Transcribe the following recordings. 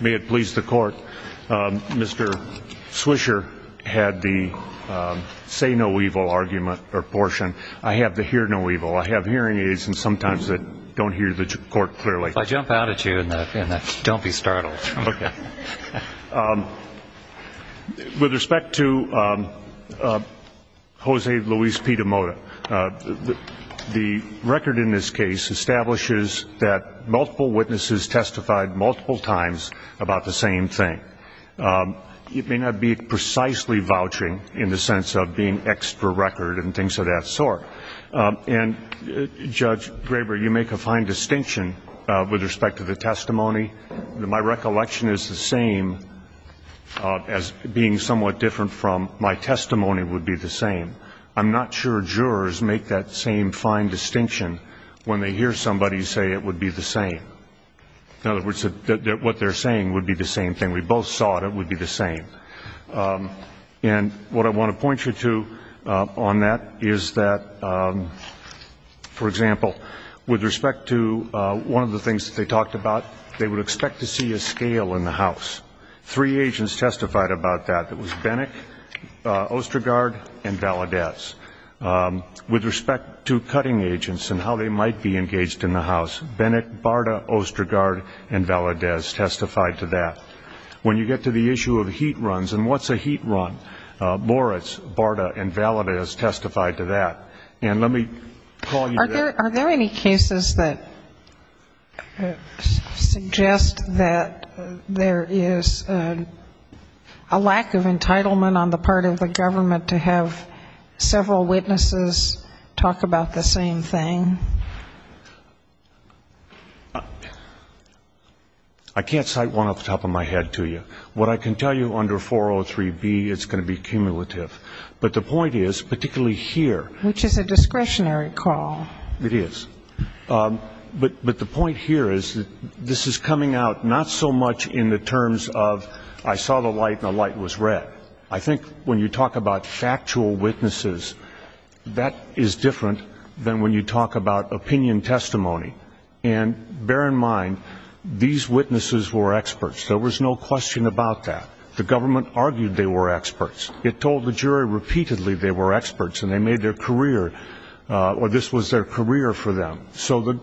may it please the court mr. Swisher had the say no evil argument or portion I have to hear no evil I have hearing aids and sometimes that don't hear the court clearly I jump out at you and that don't be startled okay with respect to Jose Luis Pita-Mota the record in this case establishes that multiple witnesses testified multiple times about the same thing it may not be precisely vouching in the sense of being extra record and things of that sort and judge Graber you make a fine distinction with respect to the testimony my recollection is the same as being somewhat different from my testimony would be the same I'm not sure jurors make that same fine distinction when they hear somebody say it would be the same in other words that what they're saying would be the same thing we both saw it it would be the same and what I want to point you to on that is that for example with respect to one of the things that they talked about they would expect to see a scale in the house three agents testified about that that was Bennett Ostergaard and Valadez with respect to cutting agents and how they might be engaged in the house Bennett Barta Ostergaard and Valadez testified to that when you get to the issue of heat runs and what's a heat run Boris Barta and Valadez testified to that and let me are there any cases that suggest that there is a lack of entitlement on the part of the government to have several witnesses talk about the same thing I can't cite one off the top of my head to you what I can tell you under 403 B it's going to be cumulative but the point is particularly here which is a discretionary call it is but but the point here is that this is coming out not so much in the terms of I saw the light the light was red I think when you talk about factual witnesses that is different than when you talk about opinion testimony and bear in mind these witnesses were experts there was no question about that the government argued they were experts it told the jury repeatedly they were experts and they made their career or this was their career for them so that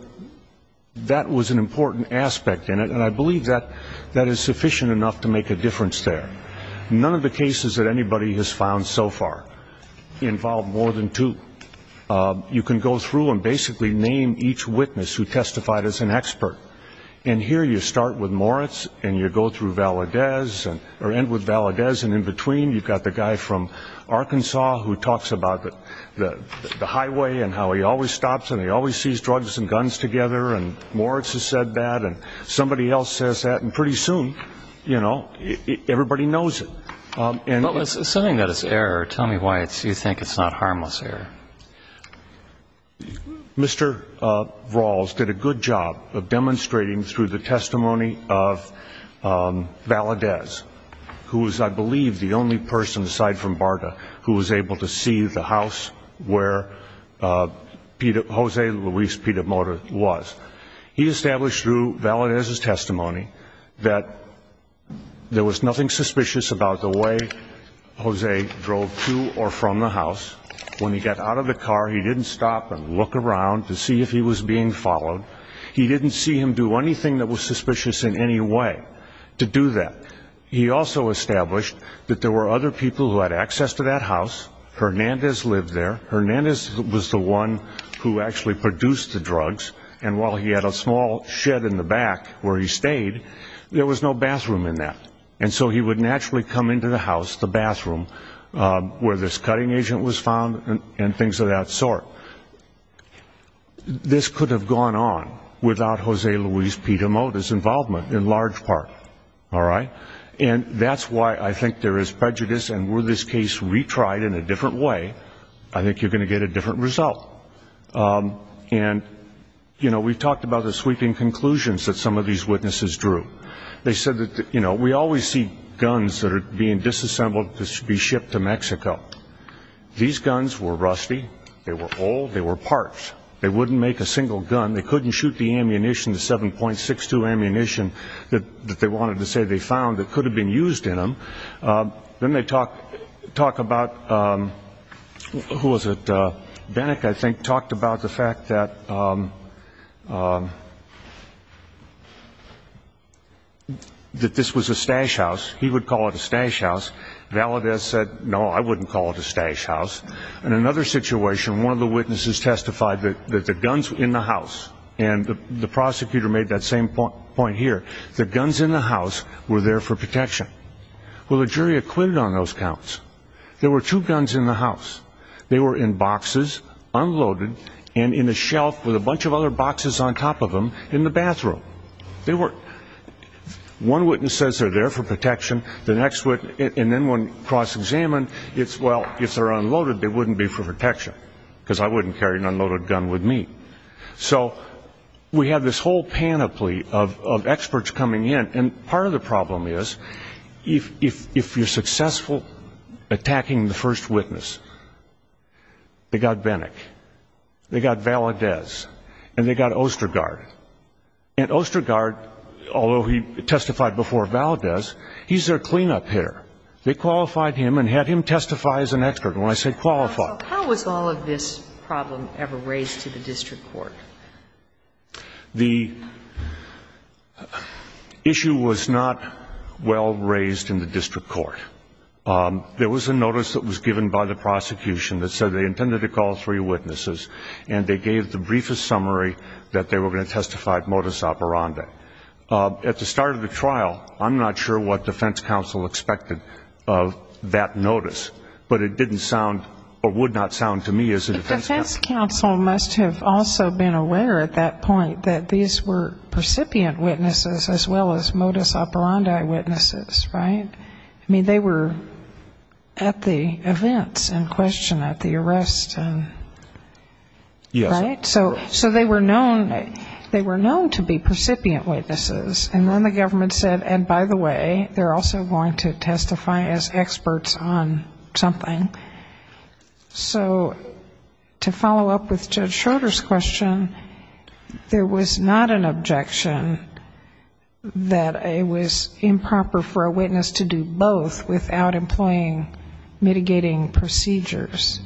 that was an important aspect in it and I believe that that is sufficient enough to make a there none of the cases that anybody has found so far involved more than two you can go through and basically name each witness who testified as an expert and here you start with Moritz and you go through Valadez and Valadez and in between you got the guy from Arkansas who talks about the highway and how he always stops and he always sees drugs and guns together and Moritz has said that and somebody else says that and pretty soon you know everybody knows it and something that is error tell me why it's you think it's not harmless error mr. Rawls did a good job of demonstrating through the testimony of Valadez who is I believe the only person aside from Barta who was able to see the where Peter Jose Luis Peter motor was he established through Valadez his testimony that there was nothing suspicious about the way Jose drove to or from the house when he got out of the car he didn't stop and look around to see if he was being followed he didn't see him do anything that was suspicious in any way to do that he also established that there were other people who had access to that house Hernandez lived there Hernandez was the one who actually produced the drugs and while he had a small shed in the back where he stayed there was no bathroom in that and so he would naturally come into the house the bathroom where this cutting agent was found and things of that sort this could have gone on without Jose Luis Peter motors involvement in large alright and that's why I think there is prejudice and were this case retried in a different way I think you're going to get a different result and you know we talked about the sweeping conclusions that some of these witnesses drew they said that you know we always see guns that are being disassembled to be shipped to Mexico these guns were rusty they were old they were parts they wouldn't make a single gun they couldn't shoot the ammunition to 7.62 ammunition that they wanted to say they found that could have been used in them then they talk talk about who was it then I think talked about the fact that that this was a stash house he would call it a stash house Valadez said no I wouldn't call it a stash house in another situation one of the witnesses testified that the guns in the house and the prosecutor made that same point here the guns in the house were there for protection well the jury acquitted on those counts there were two guns in the house they were in boxes unloaded and in a shelf with a bunch of other boxes on top of them in the bathroom they were one witness says they're there for protection the next wit and then one cross-examined it's well if they're unloaded they wouldn't be for protection because I wouldn't carry an unloaded gun with me so we have this whole panoply of experts coming in and part of the problem is if if if you're successful attacking the first witness they got Bennett they got Valadez and they got Ostergaard and Ostergaard although he testified before Valadez he's their cleanup hitter they qualified him and had him testify as an expert when I say qualified how was all of this problem ever raised to the district court the issue was not well raised in the district court there was a notice that was given by the prosecution that said they intended to call three witnesses and they gave the briefest summary that they were going to testify modus operandi at the start of the trial I'm not sure what defense counsel expected of that notice but it didn't sound or would not sound to me as a defense counsel must have also been aware at that point that these were percipient witnesses as well as modus operandi witnesses right I mean they were at the events in question at the arrest and yeah right so so they were known they were known to be percipient witnesses and then the government said and by the way they're also going to so to follow up with Judge Schroeder's question there was not an objection that it was improper for a witness to do both without employing mitigating procedures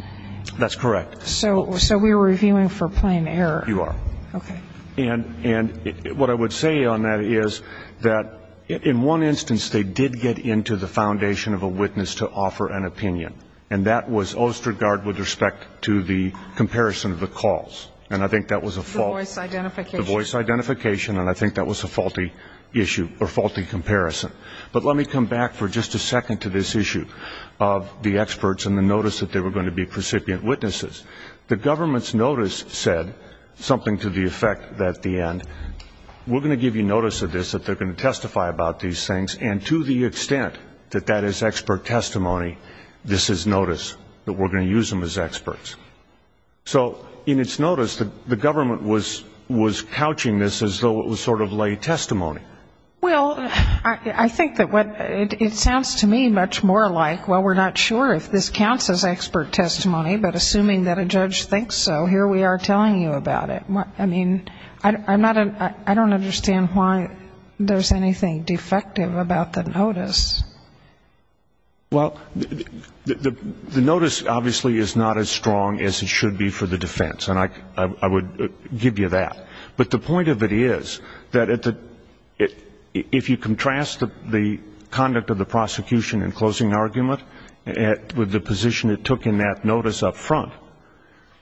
that's correct so so we were reviewing for plain error you are okay and and what I would say on that is that in one instance they did get into the respect to the comparison of the calls and I think that was a false voice identification and I think that was a faulty issue or faulty comparison but let me come back for just a second to this issue of the experts and the notice that they were going to be precipient witnesses the government's notice said something to the effect that the end we're going to give you notice of this that they're going to testify about these things and to the extent that that is expert testimony this is notice that we're going to use them as experts so in its notice that the government was was couching this as though it was sort of lay testimony well I think that what it sounds to me much more like well we're not sure if this counts as expert testimony but assuming that a judge thinks so here we are telling you about it what I mean I'm not a I don't understand why there's anything defective about the notice well the notice obviously is not as strong as it should be for the defense and I would give you that but the point of it is that at the it if you contrast the conduct of the prosecution in closing argument and with the position it took in that notice up front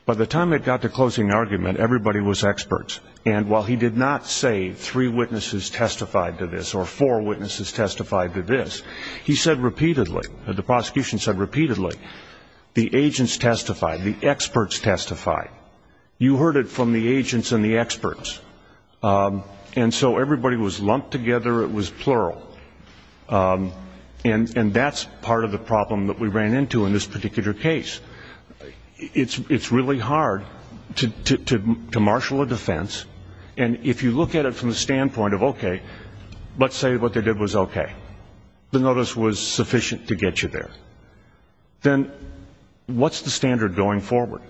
by the time it got to closing argument everybody was experts and while he did not say three witnesses testified to this or four witnesses testified to this he said repeatedly the prosecution said repeatedly the agents testified the experts testified you heard it from the agents and the experts and so everybody was lumped together it was plural and and that's part of the problem that we ran into in this particular case it's really hard to marshal a defense and if you look at it from the standpoint of okay let's say what they did was okay the notice was sufficient to get you there then what's the standard going forward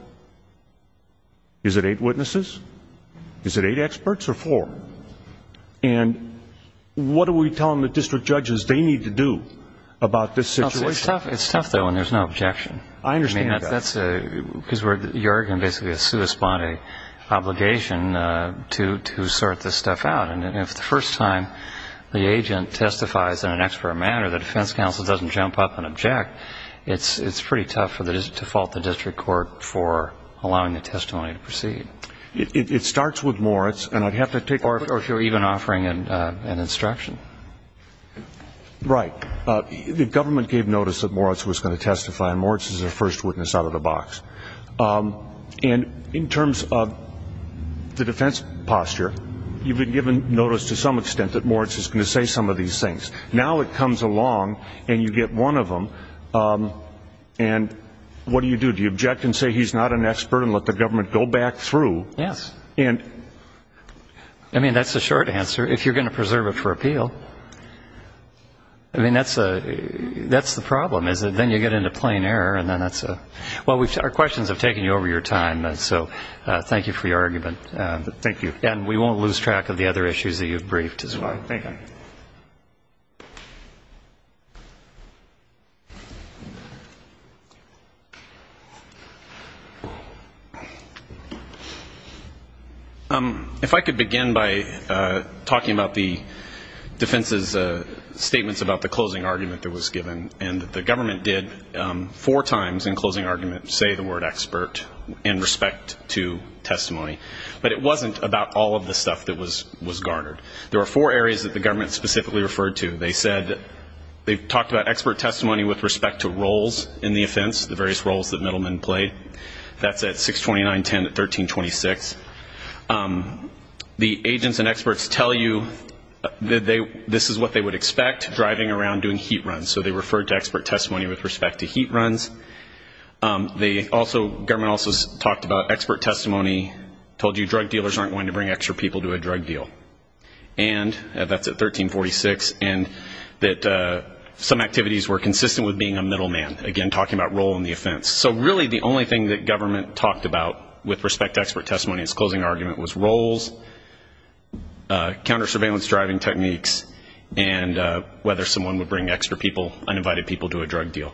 is it eight witnesses is it eight experts or four and what are we telling the district judges they need to do about this situation it's tough though and there's no objection I basically a sui sponte obligation to to sort this stuff out and if the first time the agent testifies in an expert manner the defense counsel doesn't jump up and object it's it's pretty tough for that is to fault the district court for allowing the testimony to proceed it starts with Moritz and I'd have to take or if you're even offering an instruction right the government gave notice that Moritz was going to testify and Moritz is a first witness out of the and in terms of the defense posture you've been given notice to some extent that Moritz is going to say some of these things now it comes along and you get one of them and what do you do do you object and say he's not an expert and let the government go back through yes and I mean that's the short answer if you're going to preserve it for appeal I mean that's a that's the problem is it then you get into plain error and then that's a well we've our questions I've taken you over your time and so thank you for your argument thank you and we won't lose track of the other issues that you've briefed as well um if I could begin by talking about the defense's statements about the closing argument that was given and the government did four times in closing argument say the word expert in respect to testimony but it wasn't about all of the stuff that was was garnered there were four areas that the government specifically referred to they said they've talked about expert testimony with respect to roles in the offense the various roles that middlemen played that's at 629 10 at 1326 the agents and experts tell you that they this is what they would expect driving around doing heat runs so they referred to expert they also government also talked about expert testimony told you drug dealers aren't going to bring extra people to a drug deal and that's at 1346 and that some activities were consistent with being a middleman again talking about role in the offense so really the only thing that government talked about with respect to expert testimony it's closing argument was roles counter surveillance driving techniques and whether someone would bring extra people uninvited people to a drug deal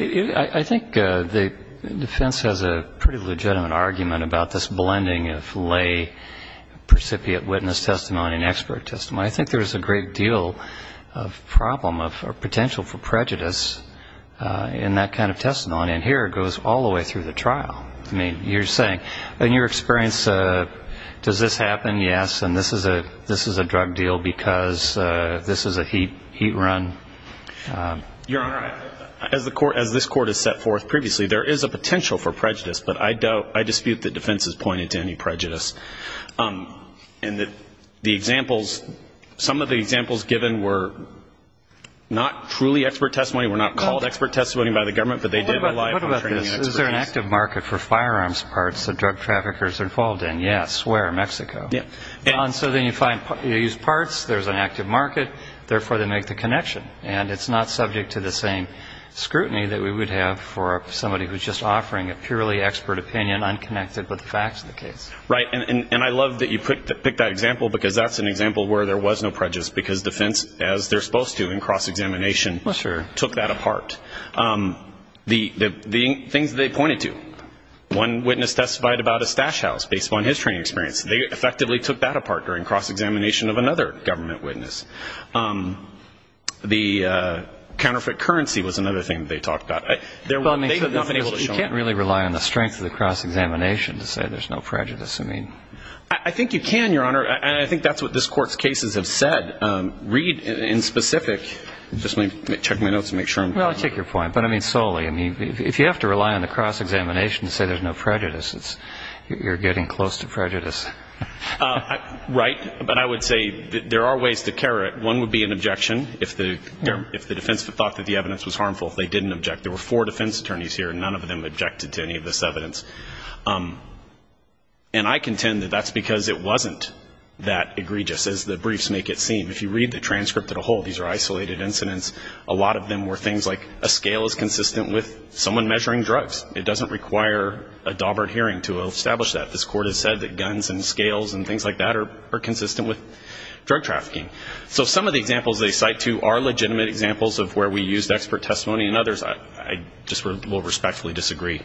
I think the defense has a pretty legitimate argument about this blending of lay precipiate witness testimony and expert testimony I think there's a great deal of problem of potential for prejudice in that kind of testimony and here it goes all the way through the trial I mean you're saying in your experience does this happen yes and this is a this is a heat run your honor as the court as this court is set forth previously there is a potential for prejudice but I doubt I dispute that defense is pointed to any prejudice and that the examples some of the examples given were not truly expert testimony we're not called expert testimony by the government but they do there an active market for firearms parts of drug traffickers involved in yes where Mexico yeah and so then you find you use parts there's an active market therefore they make the connection and it's not subject to the same scrutiny that we would have for somebody who's just offering a purely expert opinion unconnected with the facts of the case right and and I love that you put to pick that example because that's an example where there was no prejudice because defense as they're supposed to in cross-examination sure took that apart the the things they pointed to one witness testified about a stash house based on his training experience they effectively took that of another government witness the counterfeit currency was another thing they talked about there well you can't really rely on the strength of the cross-examination to say there's no prejudice I mean I think you can your honor and I think that's what this court's cases have said read in specific just let me check my notes to make sure I'm well I take your point but I mean solely I mean if you have to rely on the cross-examination to say there's no prejudice right but I would say there are ways to carry it one would be an objection if the if the defense that thought that the evidence was harmful they didn't object there were four defense attorneys here none of them objected to any of this evidence and I contend that that's because it wasn't that egregious as the briefs make it seem if you read the transcript at a whole these are isolated incidents a lot of them were things like a scale is consistent with someone measuring drugs it doesn't require a Daubert hearing to establish that this court has said that guns and scales and things like that are consistent with drug trafficking so some of the examples they cite to are legitimate examples of where we used expert testimony and others I just will respectfully disagree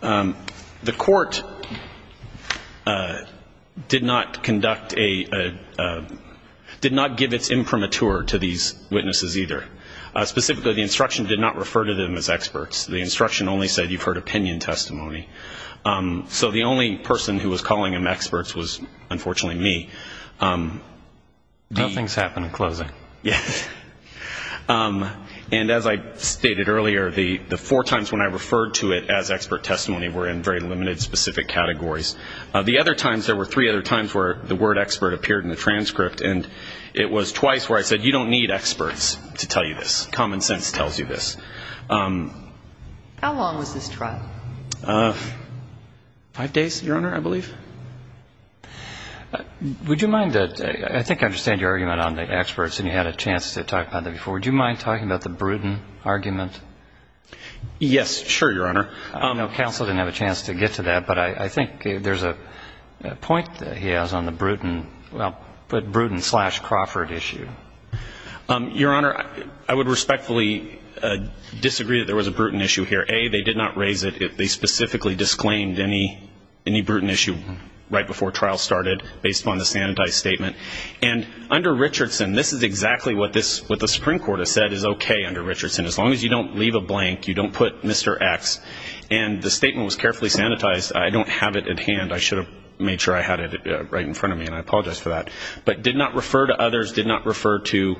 the court did not conduct a did not give its imprimatur to these witnesses either specifically the instruction did not refer to them as testimony so the only person who was calling him experts was unfortunately me things happen in closing yes and as I stated earlier the the four times when I referred to it as expert testimony were in very limited specific categories the other times there were three other times where the word expert appeared in the transcript and it was twice where I said you don't need experts to tell you this common sense tells you this how long was this trial five days your honor I believe would you mind that I think I understand your argument on the experts and you had a chance to talk about that before would you mind talking about the Bruton argument yes sure your honor no counsel didn't have a chance to get to that but I think there's a point that he has on the Bruton well but Bruton Crawford issue your honor I would respectfully disagree that there was a Bruton issue here a they did not raise it if they specifically disclaimed any any Bruton issue right before trial started based on the sanitized statement and under Richardson this is exactly what this what the Supreme Court has said is okay under Richardson as long as you don't leave a blank you don't put mr. X and the statement was carefully sanitized I don't have it at hand I should have made sure I had it right in front of me and I apologize for that but did not refer to others did not refer to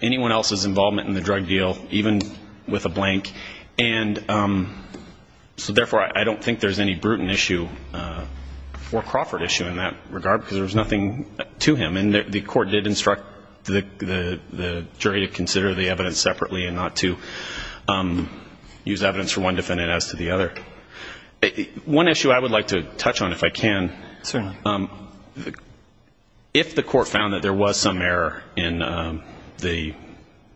anyone else's involvement in the drug deal even with a blank and so therefore I don't think there's any Bruton issue or Crawford issue in that regard because there was nothing to him and the court did instruct the jury to consider the evidence separately and not to use evidence for one defendant as to the other one issue I would like to touch on if I can sir if the court found that there was some error in the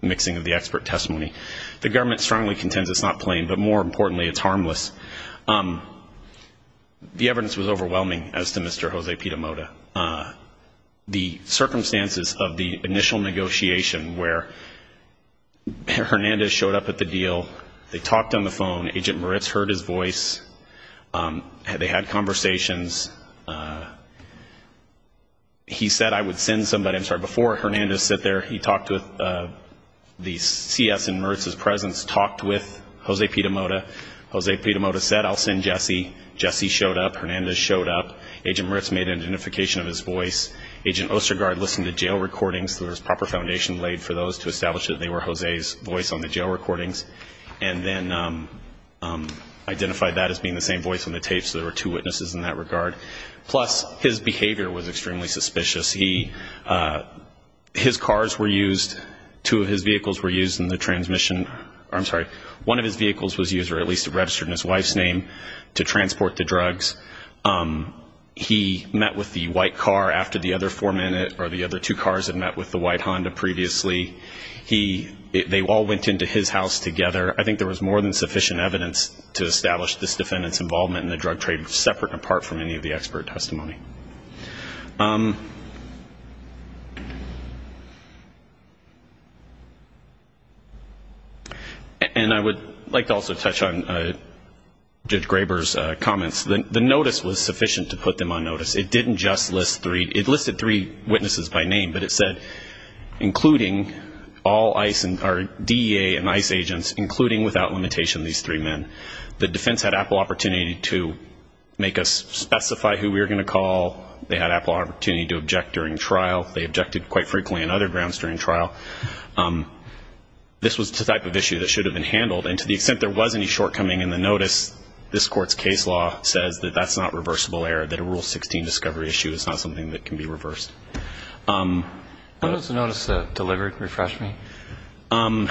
mixing of the expert testimony the government strongly contends it's not plain but more importantly it's harmless the evidence was overwhelming as to mr. Jose Piedamoda the circumstances of the initial negotiation where Hernandez showed up at the deal they talked on the phone agent Moritz heard his voice had conversations he said I would send somebody I'm sorry before Hernandez sit there he talked with the CS in Mertz's presence talked with Jose Piedamoda Jose Piedamoda said I'll send Jesse Jesse showed up Hernandez showed up agent Ritz made an identification of his voice agent Ostergaard listened to jail recordings there was proper foundation laid for those to establish that they were Jose's voice on the jail recordings and then identified that as being the same voice on the tapes there were two witnesses in that regard plus his behavior was extremely suspicious he his cars were used two of his vehicles were used in the transmission I'm sorry one of his vehicles was used or at least registered in his wife's name to transport the drugs he met with the white car after the other four minute or the other two cars had met with the white Honda previously he they all went into his house together I think there was more than sufficient evidence to establish this defendants involvement in the drug trade separate apart from any of the expert testimony and I would like to also touch on Judge Graber's comments the notice was sufficient to put them on notice it didn't just list three it listed three witnesses by name but it said including all ice and our DEA and ICE agents including without limitation these three men the defense had Apple opportunity to make us specify who we were gonna call they had Apple opportunity to object during trial they objected quite frequently on other grounds during trial this was the type of issue that should have been handled and to the extent there was any shortcoming in the notice this courts case law says that that's not reversible error that a rule 16 discovery issue is not something that notice delivered refresh me um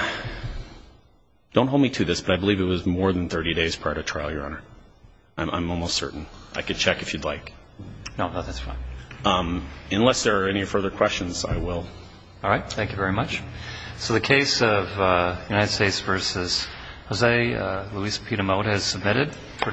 don't hold me to this but I believe it was more than 30 days prior to trial your honor I'm almost certain I could check if you'd like no that's fine um unless there are any further questions I will all right thank you very much so the case of United States versus Jose Luis Peter mode has submitted